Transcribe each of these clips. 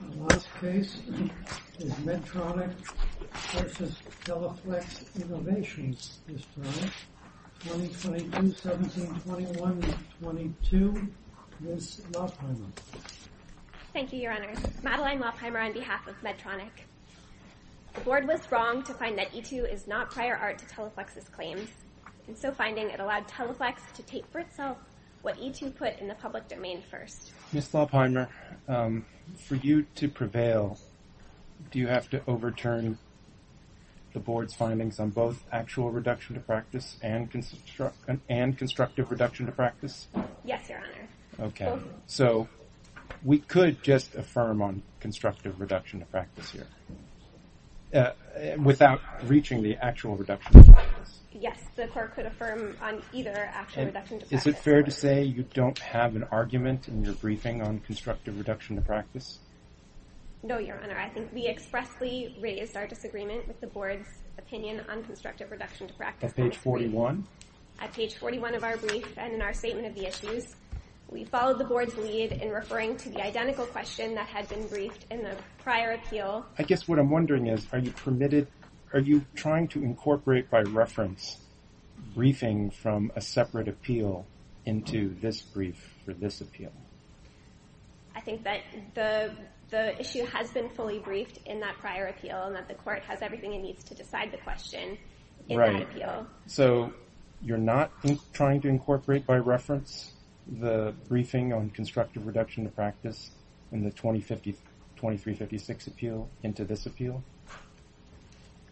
The last case is Medtronic v. Teleflex Innovations, 2022-17-21-22, Ms. Lopheimer. Thank you, Your Honors. Madeline Lopheimer on behalf of Medtronic. The Board was wrong to find that E2 is not prior art to Teleflex's claims, and so finding it allowed Teleflex to take for itself what E2 put in the public domain first. Ms. Lopheimer, for you to prevail, do you have to overturn the Board's findings on both actual reduction to practice and constructive reduction to practice? Yes, Your Honor. Okay. So we could just affirm on constructive reduction to practice here, without reaching the actual reduction to practice? Yes, the Court could affirm on either actual reduction to practice. Is it fair to say you don't have an argument in your briefing on constructive reduction to practice? No, Your Honor. I think we expressly raised our disagreement with the Board's opinion on constructive reduction to practice. At page 41? At page 41 of our brief and in our statement of the issues. We followed the Board's lead in referring to the identical question that had been briefed in the prior appeal. I guess what I'm wondering is, are you trying to incorporate by reference briefing from a separate appeal into this brief for this appeal? I think that the issue has been fully briefed in that prior appeal and that the Court has everything it needs to decide the question in that appeal. So you're not trying to incorporate by reference the briefing on constructive reduction to practice in the 2356 appeal into this appeal?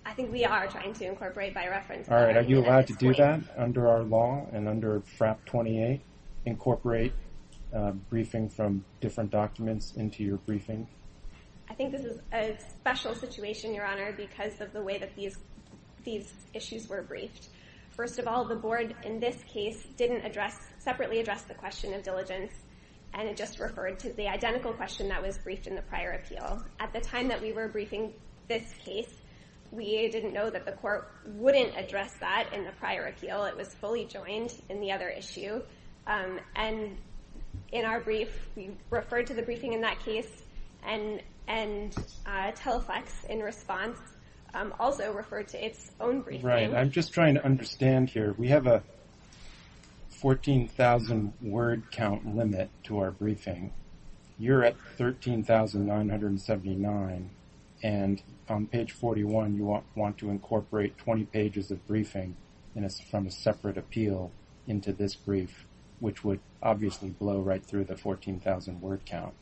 I think we are trying to incorporate by reference. All right. Are you allowed to do that under our law and under FRAP 28, incorporate briefing from different documents into your briefing? I think this is a special situation, Your Honor, because of the way that these issues were briefed. First of all, the Board in this case didn't separately address the question of diligence and just referred to the identical question that was briefed in the prior appeal. At the time that we were briefing this case, we didn't know that the Court wouldn't address that in the prior appeal. It was fully joined in the other issue. And in our brief, we referred to the briefing in that case. And TELFX, in response, also referred to its own briefing. Right. I'm just trying to understand here. We have a 14,000 word count limit to our briefing. You're at 13,979. And on page 41, you want to incorporate 20 pages of briefing from a separate appeal into this brief, which would obviously blow right through the 14,000 word count.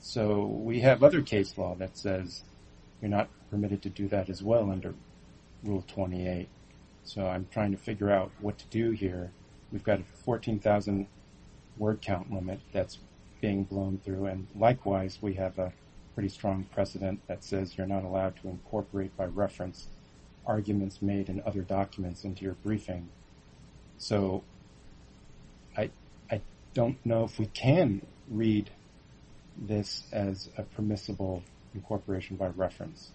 So we have other case law that says you're not permitted to do that as well under Rule 28. So I'm trying to figure out what to do here. We've got a 14,000 word count limit that's being blown through. And likewise, we have a pretty strong precedent that says you're not allowed to incorporate by reference arguments made in other documents into your briefing. So I don't know if we can read this as a permissible incorporation by reference.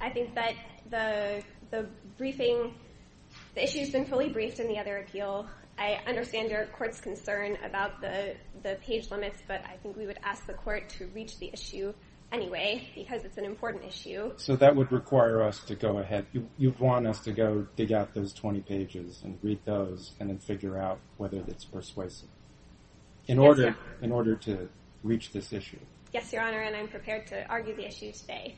I think that the briefing, the issue has been fully briefed in the other appeal. I understand your court's concern about the page limits, but I think we would ask the court to reach the issue anyway because it's an important issue. So that would require us to go ahead. You'd want us to go dig out those 20 pages and read those and then figure out whether it's persuasive in order to reach this issue. Yes, Your Honor, and I'm prepared to argue the issue today.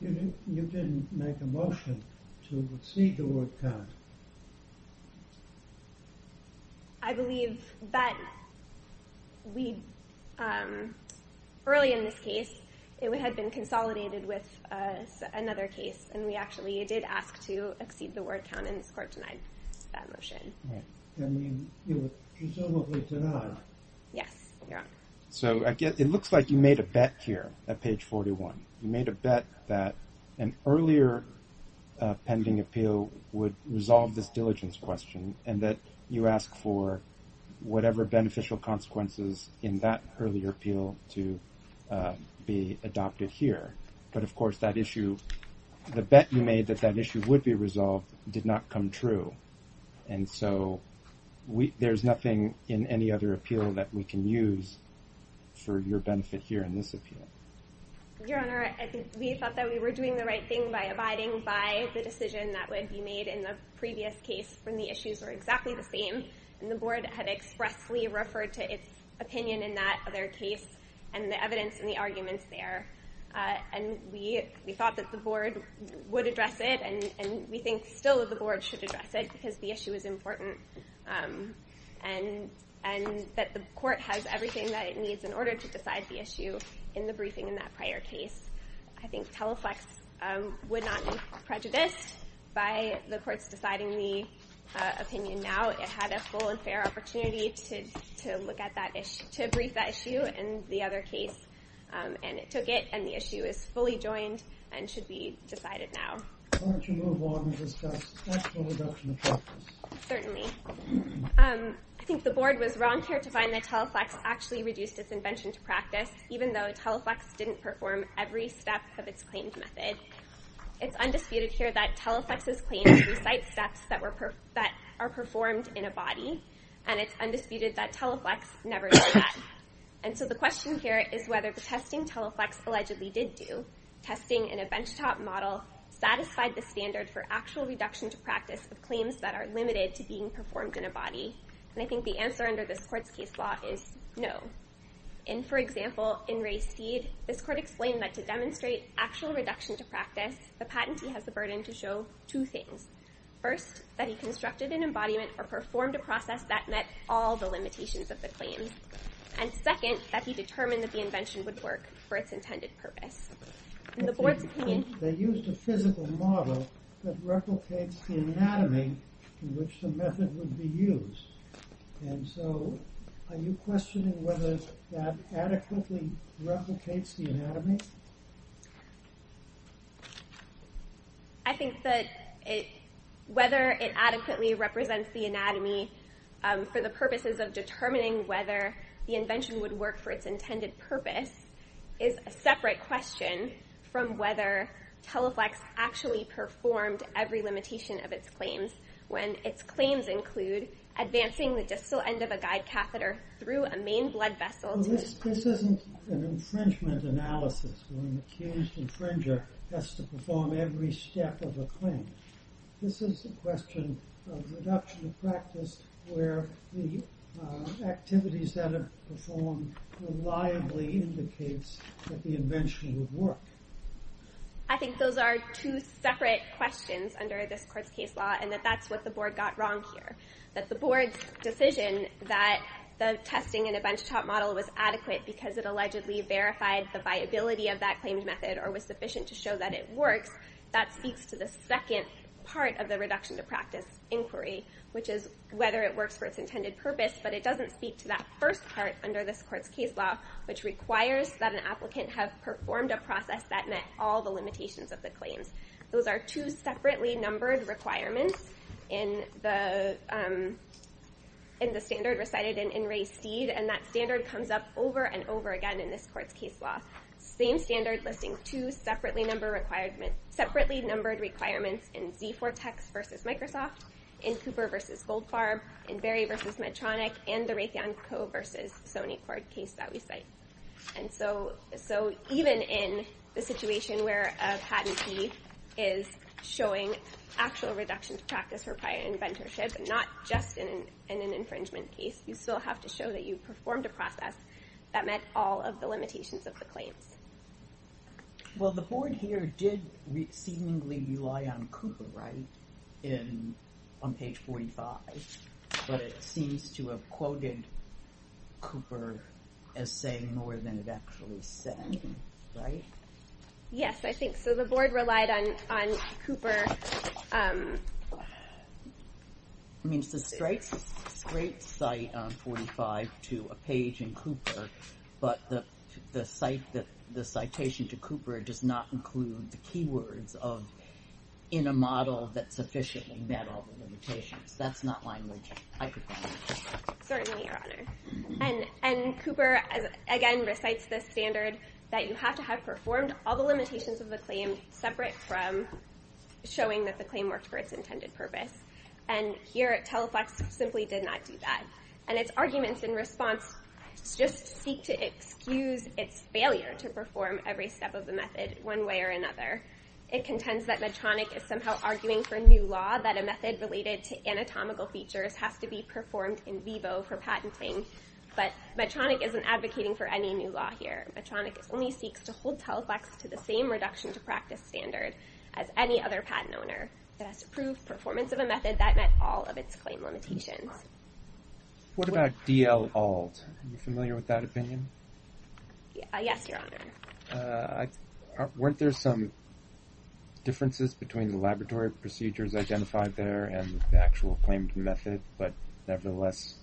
You didn't make a motion to exceed the word count. I believe that early in this case, it had been consolidated with another case. And we actually did ask to exceed the word count, and this court denied that motion. I mean, you were presumably denied. Yes, Your Honor. So it looks like you made a bet here at page 41. You made a bet that an earlier pending appeal would resolve this diligence question and that you ask for whatever beneficial consequences in that earlier appeal to be adopted here. But, of course, that issue, the bet you made that that issue would be resolved did not come true. And so there's nothing in any other appeal that we can use for your benefit here in this appeal. Your Honor, we thought that we were doing the right thing by abiding by the decision that would be made in the previous case when the issues were exactly the same. And the board had expressly referred to its opinion in that other case and the evidence and the arguments there. And we thought that the board would address it. And we think still the board should address it because the issue is important and that the court has everything that it needs in order to decide the issue in the briefing in that prior case. I think Teleflex would not be prejudiced by the courts deciding the opinion now. It had a full and fair opportunity to look at that issue, to brief that issue in the other case. And it took it. And the issue is fully joined and should be decided now. Why don't you move on and discuss the actual reduction of practice? Certainly. I think the board was wrong here to find that Teleflex actually reduced its invention to practice, even though Teleflex didn't perform every step of its claimed method. It's undisputed here that Teleflex's claims recite steps that are performed in a body. And it's undisputed that Teleflex never did that. And so the question here is whether the testing Teleflex allegedly did do, testing in a benchtop model, satisfied the standard for actual reduction to practice of claims that are limited to being performed in a body. And I think the answer under this court's case law is no. And for example, in Ray Steed, this court explained that to demonstrate actual reduction to practice, the patentee has the burden to show two things. First, that he constructed an embodiment or performed a process that met all the limitations of the claim. And second, that he determined that the invention would work for its intended purpose. In the board's opinion, they used a physical model that replicates the anatomy in which the method would be used. And so, are you questioning whether that adequately replicates the anatomy? I think that whether it adequately represents the anatomy for the purposes of determining whether the invention would work for its intended purpose is a separate question from whether Teleflex actually performed every limitation of its claims. When its claims include advancing the distal end of a guide catheter through a main blood vessel. This isn't an infringement analysis where an accused infringer has to perform every step of a claim. This is a question of reduction of practice where the activities that are performed reliably indicates that the invention would work. I think those are two separate questions under this court's case law and that that's what the board got wrong here. That the board's decision that the testing in a benchtop model was adequate because it allegedly verified the viability of that claimed method or was sufficient to show that it works, that speaks to the second part of the reduction to practice inquiry, which is whether it works for its intended purpose. But it doesn't speak to that first part under this court's case law, which requires that an applicant have performed a process that met all the limitations of the claims. Those are two separately numbered requirements in the standard recited in Ray Steed and that standard comes up over and over again in this court's case law. Same standard listing two separately numbered requirements in Z-4 Tex versus Microsoft, in Cooper versus Goldfarb, in Berry versus Medtronic, and the Raytheon Co. versus Sony Cord case that we cite. And so even in the situation where a patentee is showing actual reduction to practice for prior inventorship, not just in an infringement case, you still have to show that you performed a process that met all of the limitations of the claims. Well, the board here did seemingly rely on Cooper, right, on page 45, but it seems to have quoted Cooper as saying more than it actually said, right? Yes, I think so. The board relied on Cooper. I mean, it's a straight cite on 45 to a page in Cooper, but the citation to Cooper does not include the keywords of in a model that sufficiently met all the limitations. That's not language I could find. Certainly, Your Honor. And Cooper, again, recites the standard that you have to have performed all the limitations of the claim separate from showing that the claim worked for its intended purpose. And here, Teleflex simply did not do that. And its arguments in response just seek to excuse its failure to perform every step of the method one way or another. It contends that Medtronic is somehow arguing for a new law that a method related to anatomical features has to be performed in vivo for patenting. But Medtronic isn't advocating for any new law here. Medtronic only seeks to hold Teleflex to the same reduction to practice standard as any other patent owner. It has to prove performance of a method that met all of its claim limitations. What about DL-Alt? Are you familiar with that opinion? Yes, Your Honor. Weren't there some differences between the laboratory procedures identified there and the actual claimed method? But nevertheless,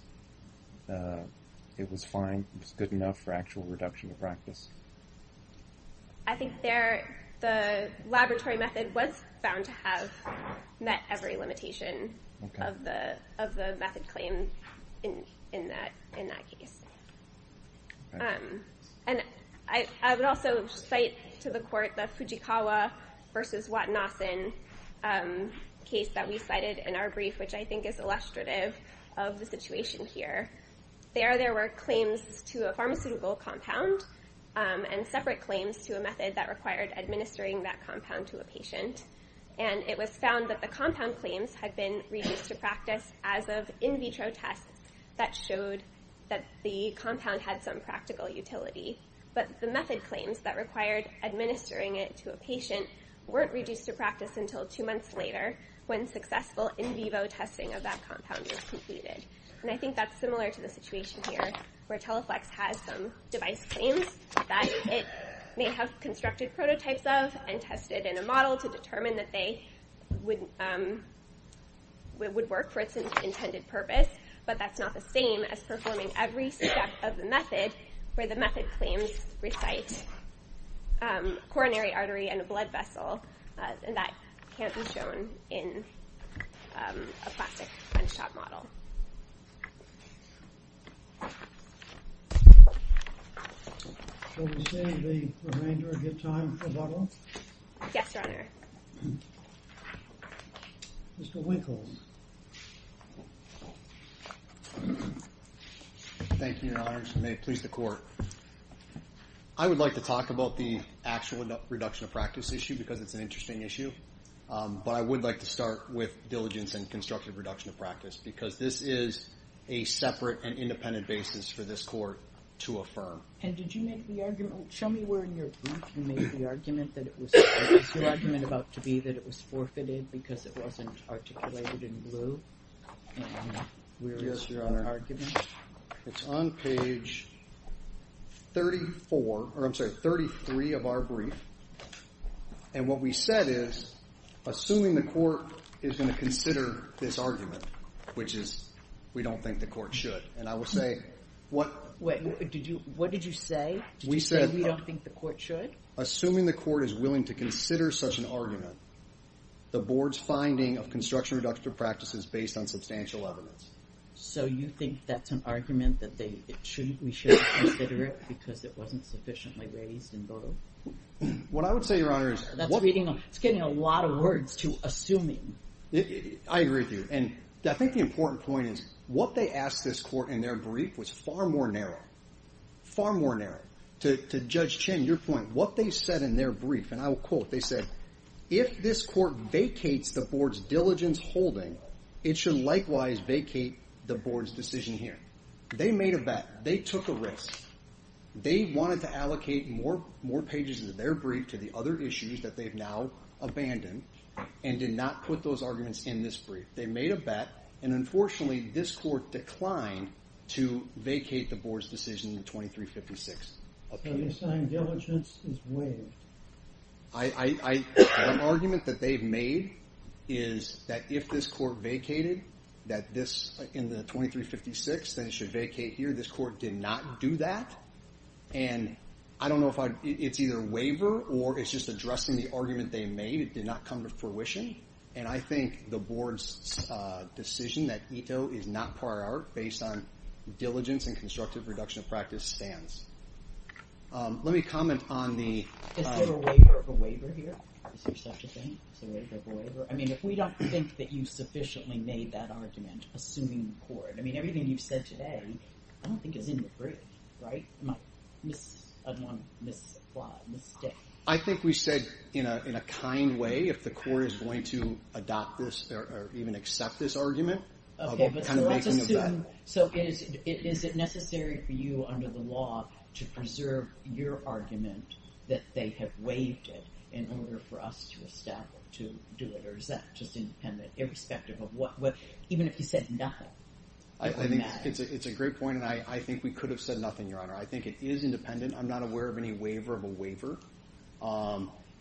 it was fine. It was good enough for actual reduction to practice. I think the laboratory method was found to have met every limitation of the method claim in that case. I would also cite to the court the Fujikawa v. Watanason case that we cited in our brief, which I think is illustrative of the situation here. There, there were claims to a pharmaceutical compound and separate claims to a method that required administering that compound to a patient. And it was found that the compound claims had been reduced to practice as of in vitro tests that showed that the compound had some practical utility. But the method claims that required administering it to a patient weren't reduced to practice until two months later when successful in vivo testing of that compound was completed. And I think that's similar to the situation here where Teleflex has some device claims that it may have constructed prototypes of and tested in a model to determine that they would work for its intended purpose. But that's not the same as performing every step of the method where the method claims recite coronary artery and a blood vessel. And that can't be shown in a plastic bench top model. Will we save the remainder of your time for bubble? Yes, Your Honor. Mr. Winkles. Thank you, Your Honor. May it please the court. I would like to talk about the actual reduction of practice issue because it's an interesting issue. But I would like to start with diligence and constructive reduction of practice because this is a separate and independent basis for this court to affirm. And did you make the argument, show me where in your brief you made the argument that it was, what was your argument about to be that it was forfeited because it wasn't articulated in blue? And where is your argument? It's on page 34, or I'm sorry, 33 of our brief. And what we said is, assuming the court is going to consider this argument, which is we don't think the court should. And I would say what. What did you say? We said we don't think the court should. Assuming the court is willing to consider such an argument, the board's finding of construction reduction of practice is based on substantial evidence. So you think that's an argument that we shouldn't consider it because it wasn't sufficiently raised in blue? What I would say, Your Honor, is. It's getting a lot of words to assuming. I agree with you. And I think the important point is what they asked this court in their brief was far more narrow, far more narrow. To Judge Chin, your point. What they said in their brief, and I will quote, they said, If this court vacates the board's diligence holding, it should likewise vacate the board's decision hearing. They made a bet. They took a risk. They wanted to allocate more pages of their brief to the other issues that they've now abandoned and did not put those arguments in this brief. They made a bet. And unfortunately, this court declined to vacate the board's decision in 2356. So the assigned diligence is waived. One argument that they've made is that if this court vacated that this in the 2356, then it should vacate here. This court did not do that. And I don't know if it's either waiver or it's just addressing the argument they made. It did not come to fruition. And I think the board's decision that ETO is not prior art based on diligence and constructive reduction of practice stands. Let me comment on the waiver of a waiver here. Is there such a thing as a waiver of a waiver? I mean, if we don't think that you sufficiently made that argument, assuming court, I mean, everything you've said today, I don't think is in the brief. Right. I think we said, you know, in a kind way, if the court is going to adopt this or even accept this argument. So is it necessary for you under the law to preserve your argument that they have waived it in order for us to establish to do it? Or is that just independent irrespective of what, even if you said nothing? I think it's a great point. And I think we could have said nothing, Your Honor. I think it is independent. I'm not aware of any waiver of a waiver.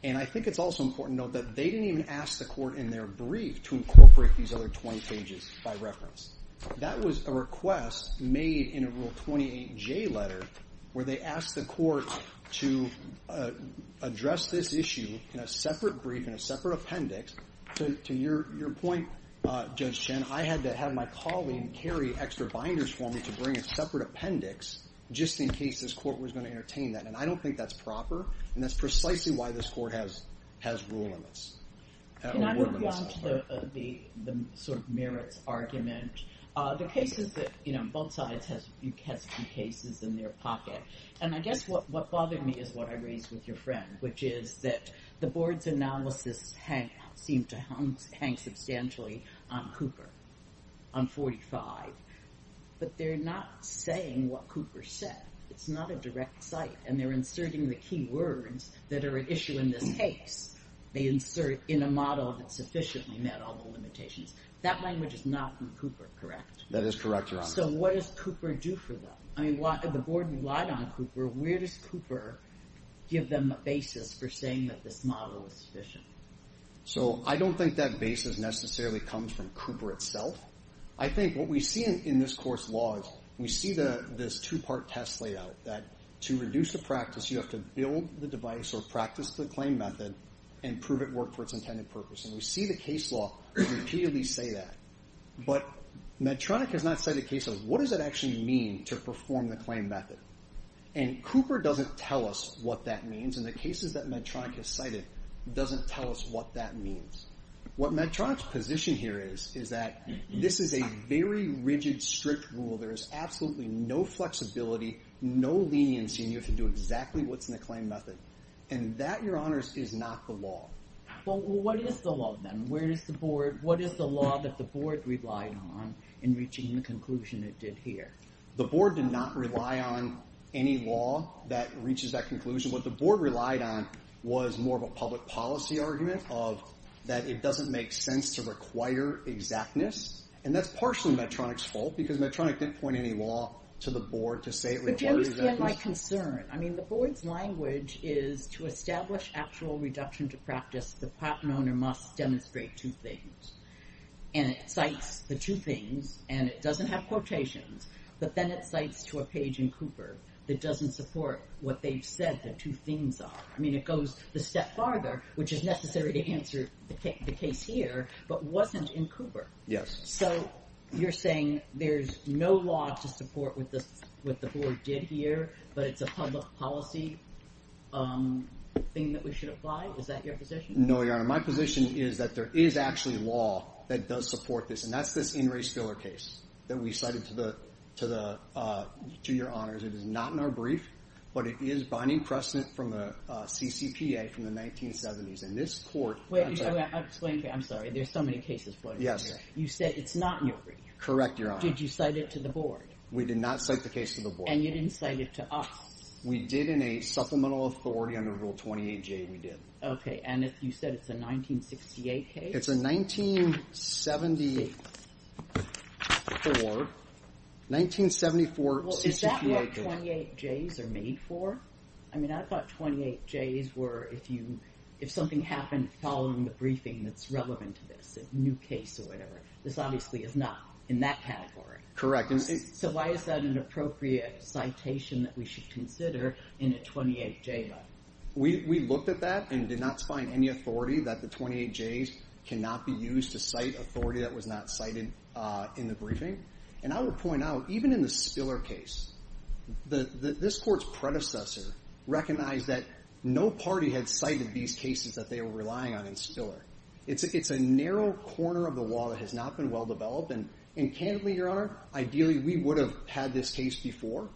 And I think it's also important to note that they didn't even ask the court in their brief to incorporate these other 20 pages by reference. That was a request made in a Rule 28J letter where they asked the court to address this issue in a separate brief, in a separate appendix. To your point, Judge Chen, I had to have my colleague carry extra binders for me to bring a separate appendix just in case this court was going to entertain that. And I don't think that's proper. And that's precisely why this court has rule in this. Can I move on to the sort of merits argument? The cases that, you know, both sides has cases in their pocket. And I guess what bothered me is what I raised with your friend, which is that the board's analysis seemed to hang substantially on Cooper, on 45. But they're not saying what Cooper said. It's not a direct cite. And they're inserting the key words that are at issue in this case. They insert in a model that sufficiently met all the limitations. That language is not from Cooper, correct? That is correct, Your Honor. So what does Cooper do for them? I mean, the board relied on Cooper. Where does Cooper give them a basis for saying that this model is sufficient? So I don't think that basis necessarily comes from Cooper itself. I think what we see in this court's law is we see this two-part test layout that to reduce the practice, you have to build the device or practice the claim method and prove it worked for its intended purpose. And we see the case law repeatedly say that. But Medtronic has not cited cases. What does it actually mean to perform the claim method? And Cooper doesn't tell us what that means. And the cases that Medtronic has cited doesn't tell us what that means. What Medtronic's position here is is that this is a very rigid, strict rule. There is absolutely no flexibility, no leniency, and you have to do exactly what's in the claim method. And that, Your Honors, is not the law. Well, what is the law then? What is the law that the board relied on in reaching the conclusion it did here? The board did not rely on any law that reaches that conclusion. What the board relied on was more of a public policy argument of that it doesn't make sense to require exactness. And that's partially Medtronic's fault because Medtronic didn't point any law to the board to say it required exactness. But do you understand my concern? I mean, the board's language is to establish actual reduction to practice, the patent owner must demonstrate two things. And it cites the two things, and it doesn't have quotations. But then it cites to a page in Cooper that doesn't support what they've said the two themes are. I mean, it goes a step farther, which is necessary to answer the case here, but wasn't in Cooper. Yes. So you're saying there's no law to support what the board did here, but it's a public policy thing that we should apply? Is that your position? No, Your Honor. My position is that there is actually law that does support this, and that's this In Re Spiller case that we cited to Your Honors. It is not in our brief, but it is binding precedent from the CCPA from the 1970s. And this court— I'm sorry. There's so many cases floating around here. Yes. You said it's not in your brief. Correct, Your Honor. Did you cite it to the board? We did not cite the case to the board. And you didn't cite it to us? We did in a supplemental authority under Rule 28J, we did. Okay, and you said it's a 1968 case? It's a 1974 CCPA case. Well, is that what 28Js are made for? I mean, I thought 28Js were if something happened following the briefing that's relevant to this, a new case or whatever. This obviously is not in that category. Correct. So why is that an appropriate citation that we should consider in a 28J? We looked at that and did not find any authority that the 28Js cannot be used to cite authority that was not cited in the briefing. And I would point out, even in the Spiller case, this court's predecessor recognized that no party had cited these cases that they were relying on in Spiller. It's a narrow corner of the wall that has not been well-developed. And candidly, Your Honor, ideally we would have had this case before.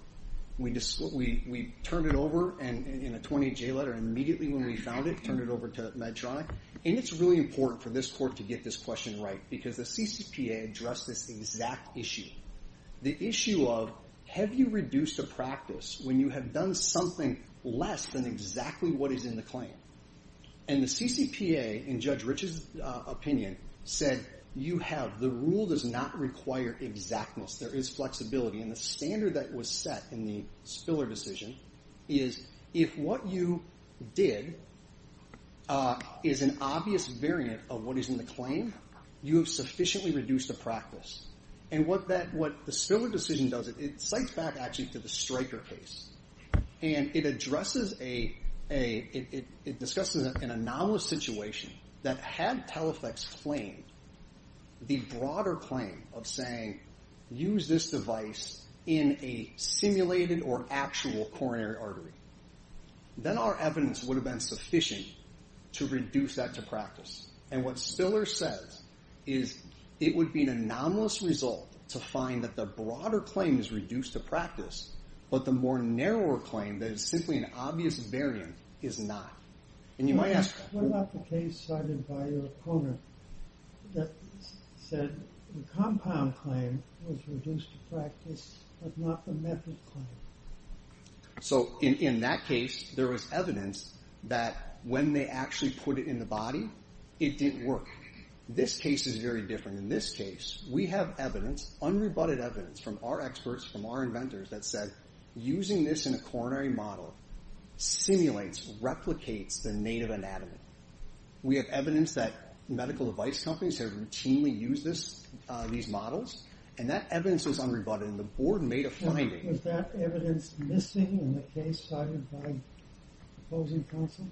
We turned it over in a 28J letter immediately when we found it, turned it over to Medtronic. And it's really important for this court to get this question right because the CCPA addressed this exact issue. The issue of, have you reduced a practice when you have done something less than exactly what is in the claim? And the CCPA, in Judge Rich's opinion, said you have, the rule does not require exactness. There is flexibility. And the standard that was set in the Spiller decision is if what you did is an obvious variant of what is in the claim, you have sufficiently reduced the practice. And what the Spiller decision does, it cites back actually to the Stryker case. And it addresses a, it discusses an anomalous situation that had Teleflex claim, the broader claim of saying, use this device in a simulated or actual coronary artery. Then our evidence would have been sufficient to reduce that to practice. And what Spiller says is it would be an anomalous result to find that the broader claim is reduced to practice. But the more narrower claim that is simply an obvious variant is not. And you might ask. What about the case cited by your opponent that said the compound claim was reduced to practice but not the method claim? So in that case, there was evidence that when they actually put it in the body, it didn't work. This case is very different. In this case, we have evidence, unrebutted evidence from our experts, from our inventors that said using this in a coronary model simulates, replicates the native anatomy. We have evidence that medical device companies have routinely used this, these models. And that evidence was unrebutted. And the board made a finding. Was that evidence missing in the case cited by opposing counsel?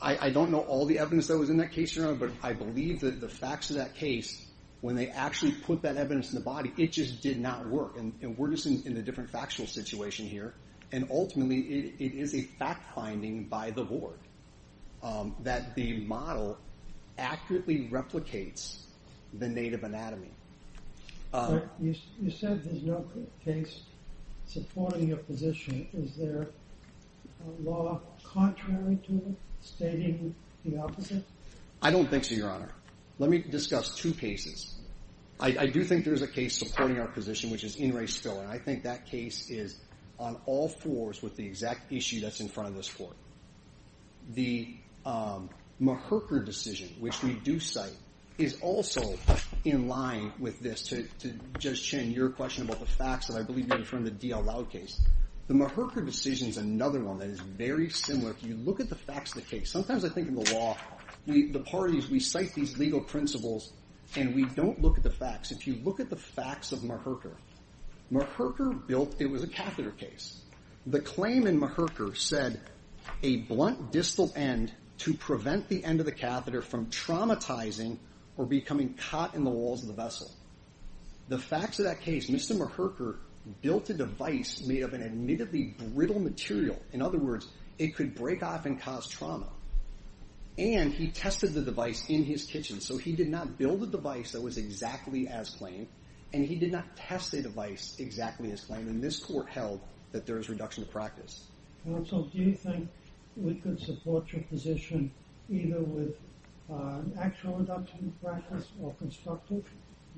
I don't know all the evidence that was in that case, Your Honor. But I believe that the facts of that case, when they actually put that evidence in the body, it just did not work. And we're just in a different factual situation here. And ultimately, it is a fact finding by the board that the model accurately replicates the native anatomy. You said there's no case supporting your position. Is there a law contrary to it, stating the opposite? I don't think so, Your Honor. Let me discuss two cases. I do think there's a case supporting our position, which is In Re Still. And I think that case is on all fours with the exact issue that's in front of this court. The Maherker decision, which we do cite, is also in line with this. To Judge Chin, your question about the facts that I believe are in front of the D.L. Loud case. The Maherker decision is another one that is very similar. If you look at the facts of the case, sometimes I think in the law, the parties, we cite these legal principles, and we don't look at the facts. If you look at the facts of Maherker, Maherker built, it was a catheter case. The claim in Maherker said a blunt distal end to prevent the end of the catheter from traumatizing or becoming caught in the walls of the vessel. The facts of that case, Mr. Maherker built a device made of an admittedly brittle material. In other words, it could break off and cause trauma. And he tested the device in his kitchen. So he did not build a device that was exactly as claimed, and he did not test the device exactly as claimed. And this court held that there is reduction of practice. Counsel, do you think we could support your position either with actual reduction of practice or constructive?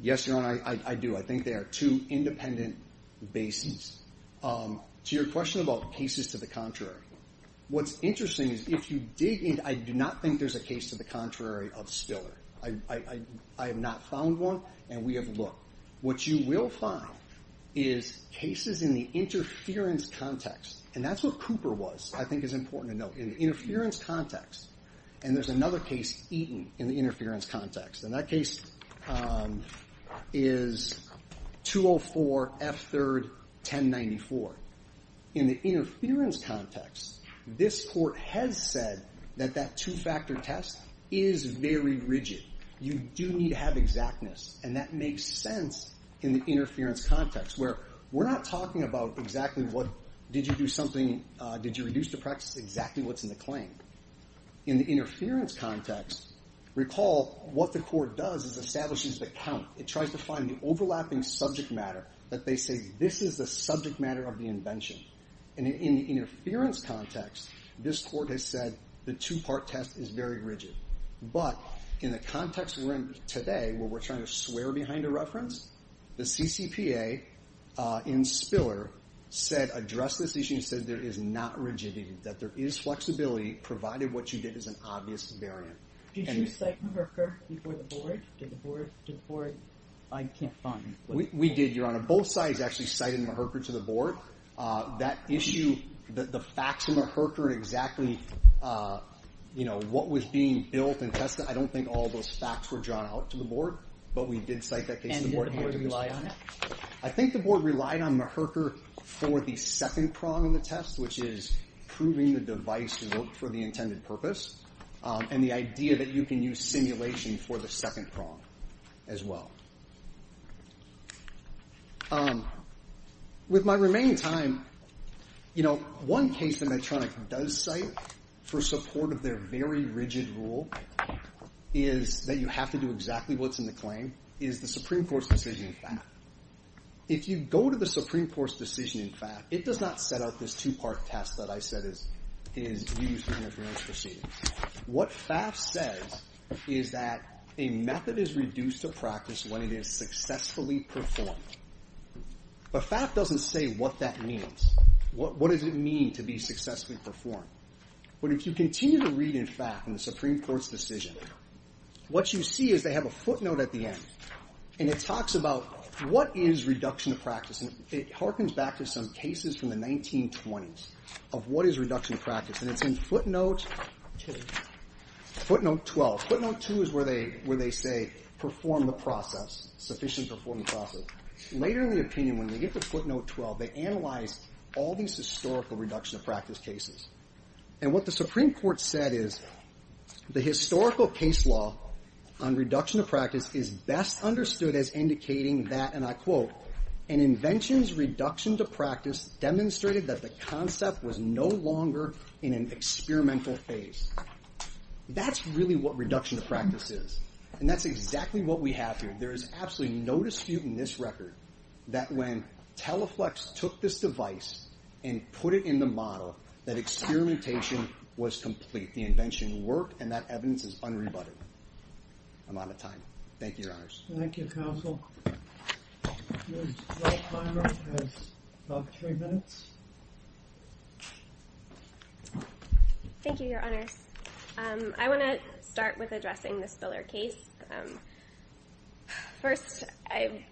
Yes, Your Honor, I do. I think they are two independent bases. To your question about cases to the contrary. What's interesting is if you dig in, I do not think there's a case to the contrary of Spiller. I have not found one, and we have looked. What you will find is cases in the interference context. And that's what Cooper was, I think is important to note, in the interference context. And there's another case, Eaton, in the interference context. And that case is 204 F3rd 1094. In the interference context, this court has said that that two-factor test is very rigid. You do need to have exactness, and that makes sense in the interference context, where we're not talking about exactly did you do something, did you reduce the practice, exactly what's in the claim. In the interference context, recall what the court does is establishes the count. It tries to find the overlapping subject matter that they say this is the subject matter of the invention. And in the interference context, this court has said the two-part test is very rigid. But in the context we're in today, where we're trying to swear behind a reference, the CCPA in Spiller said address this issue and said there is not rigidity, that there is flexibility, provided what you did is an obvious variant. Did you cite a herker before the board? Did the board, I can't find. We did, Your Honor. Both sides actually cited a herker to the board. That issue, the facts in the herker and exactly what was being built and tested, I don't think all those facts were drawn out to the board, but we did cite that case to the board. And did the board rely on it? I think the board relied on the herker for the second prong of the test, which is proving the device to work for the intended purpose, and the idea that you can use simulation for the second prong as well. With my remaining time, you know, one case that Medtronic does cite for support of their very rigid rule is that you have to do exactly what's in the claim, is the Supreme Court's decision in FAF. If you go to the Supreme Court's decision in FAF, it does not set out this two-part test that I said is used in Medtronic's proceedings. What FAF says is that a method is reduced to practice when it is successfully performed. But FAF doesn't say what that means. What does it mean to be successfully performed? But if you continue to read in FAF in the Supreme Court's decision, what you see is they have a footnote at the end, and it talks about what is reduction of practice, and it harkens back to some cases from the 1920s of what is reduction of practice. And it's in footnote 12. Footnote 2 is where they say perform the process, sufficiently perform the process. Later in the opinion, when they get to footnote 12, they analyze all these historical reduction of practice cases. And what the Supreme Court said is, the historical case law on reduction of practice is best understood as indicating that, and I quote, an invention's reduction to practice demonstrated that the concept was no longer in an experimental phase. That's really what reduction of practice is. And that's exactly what we have here. There is absolutely no dispute in this record that when Teleflex took this device and put it in the model, that experimentation was complete. The invention worked, and that evidence is unrebutted. I'm out of time. Thank you, Your Honors. Thank you, Counsel. Your time has about three minutes. Thank you, Your Honors. I want to start with addressing the Spiller case. First, I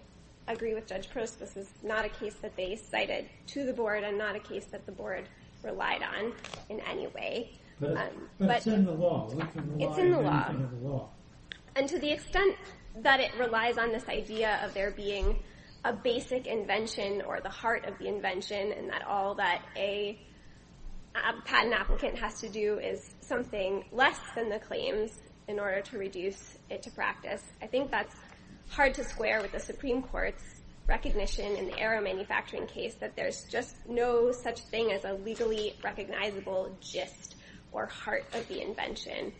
agree with Judge Prost, this is not a case that they cited to the board and not a case that the board relied on in any way. But it's in the law. It's in the law. It's in the law. And to the extent that it relies on this idea of there being a basic invention or the heart of the invention and that all that a patent applicant has to do is something less than the claims in order to reduce it to practice, I think that's hard to square with the Supreme Court's recognition in the Arrow Manufacturing case that there's just no such thing as a legally recognizable gist or heart of the invention.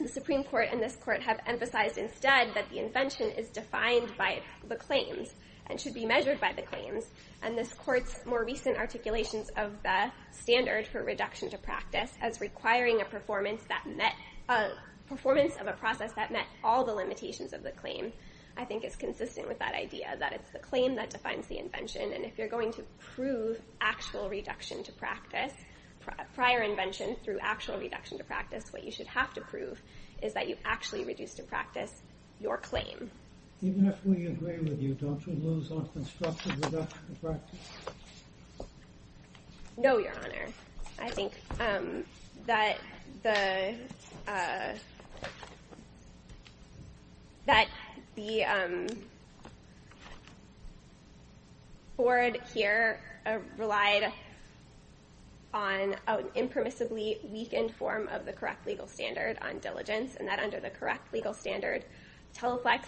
The Supreme Court and this Court have emphasized instead that the invention is defined by the claims and should be measured by the claims. And this Court's more recent articulations of the standard for reduction to practice as requiring a performance of a process that met all the limitations of the claim, I think is consistent with that idea that it's the claim that defines the invention. And if you're going to prove actual reduction to practice, prior invention through actual reduction to practice, what you should have to prove is that you actually reduced to practice your claim. Even if we agree with you, don't you lose on constructive reduction to practice? No, Your Honor. I think that the board here relied on an impermissibly weakened form of the correct legal standard on diligence and that under the correct legal standard, Teleflex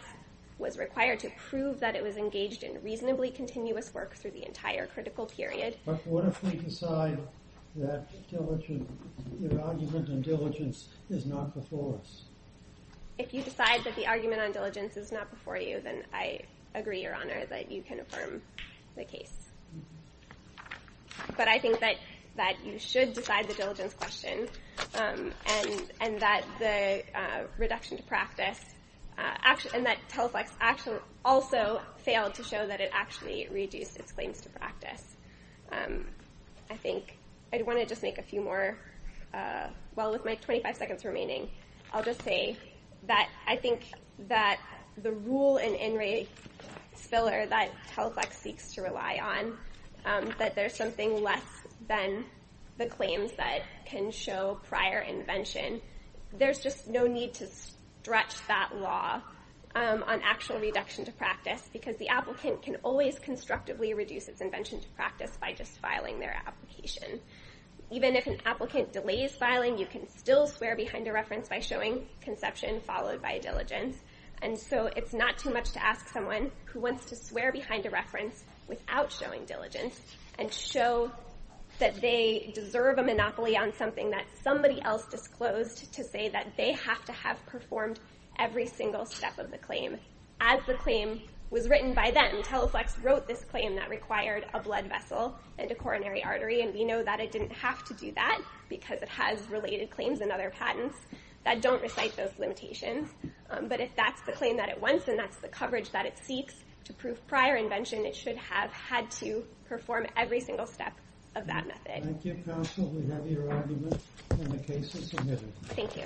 was required to prove that it was engaged in reasonably continuous work through the entire critical period. But what if we decide that your argument on diligence is not before us? If you decide that the argument on diligence is not before you, then I agree, Your Honor, that you can affirm the case. But I think that you should decide the diligence question and that the reduction to practice, and that Teleflex also failed to show that it actually reduced its claims to practice. I think I want to just make a few more, while with my 25 seconds remaining, I'll just say that I think that the rule in In Re Spiller that Teleflex seeks to rely on, that there's something less than the claims that can show prior invention, there's just no need to stretch that law on actual reduction to practice because the applicant can always constructively reduce its invention to practice by just filing their application. Even if an applicant delays filing, you can still swear behind a reference by showing conception followed by diligence. And so it's not too much to ask someone who wants to swear behind a reference without showing diligence and show that they deserve a monopoly on something that somebody else disclosed to say that they have to have performed every single step of the claim. As the claim was written by them, Teleflex wrote this claim that required a blood vessel and a coronary artery, and we know that it didn't have to do that because it has related claims and other patents that don't recite those limitations. But if that's the claim that it wants, and that's the coverage that it seeks to prove prior invention, it should have had to perform every single step of that method. Thank you, counsel. We have your argument, and the case is submitted. Thank you.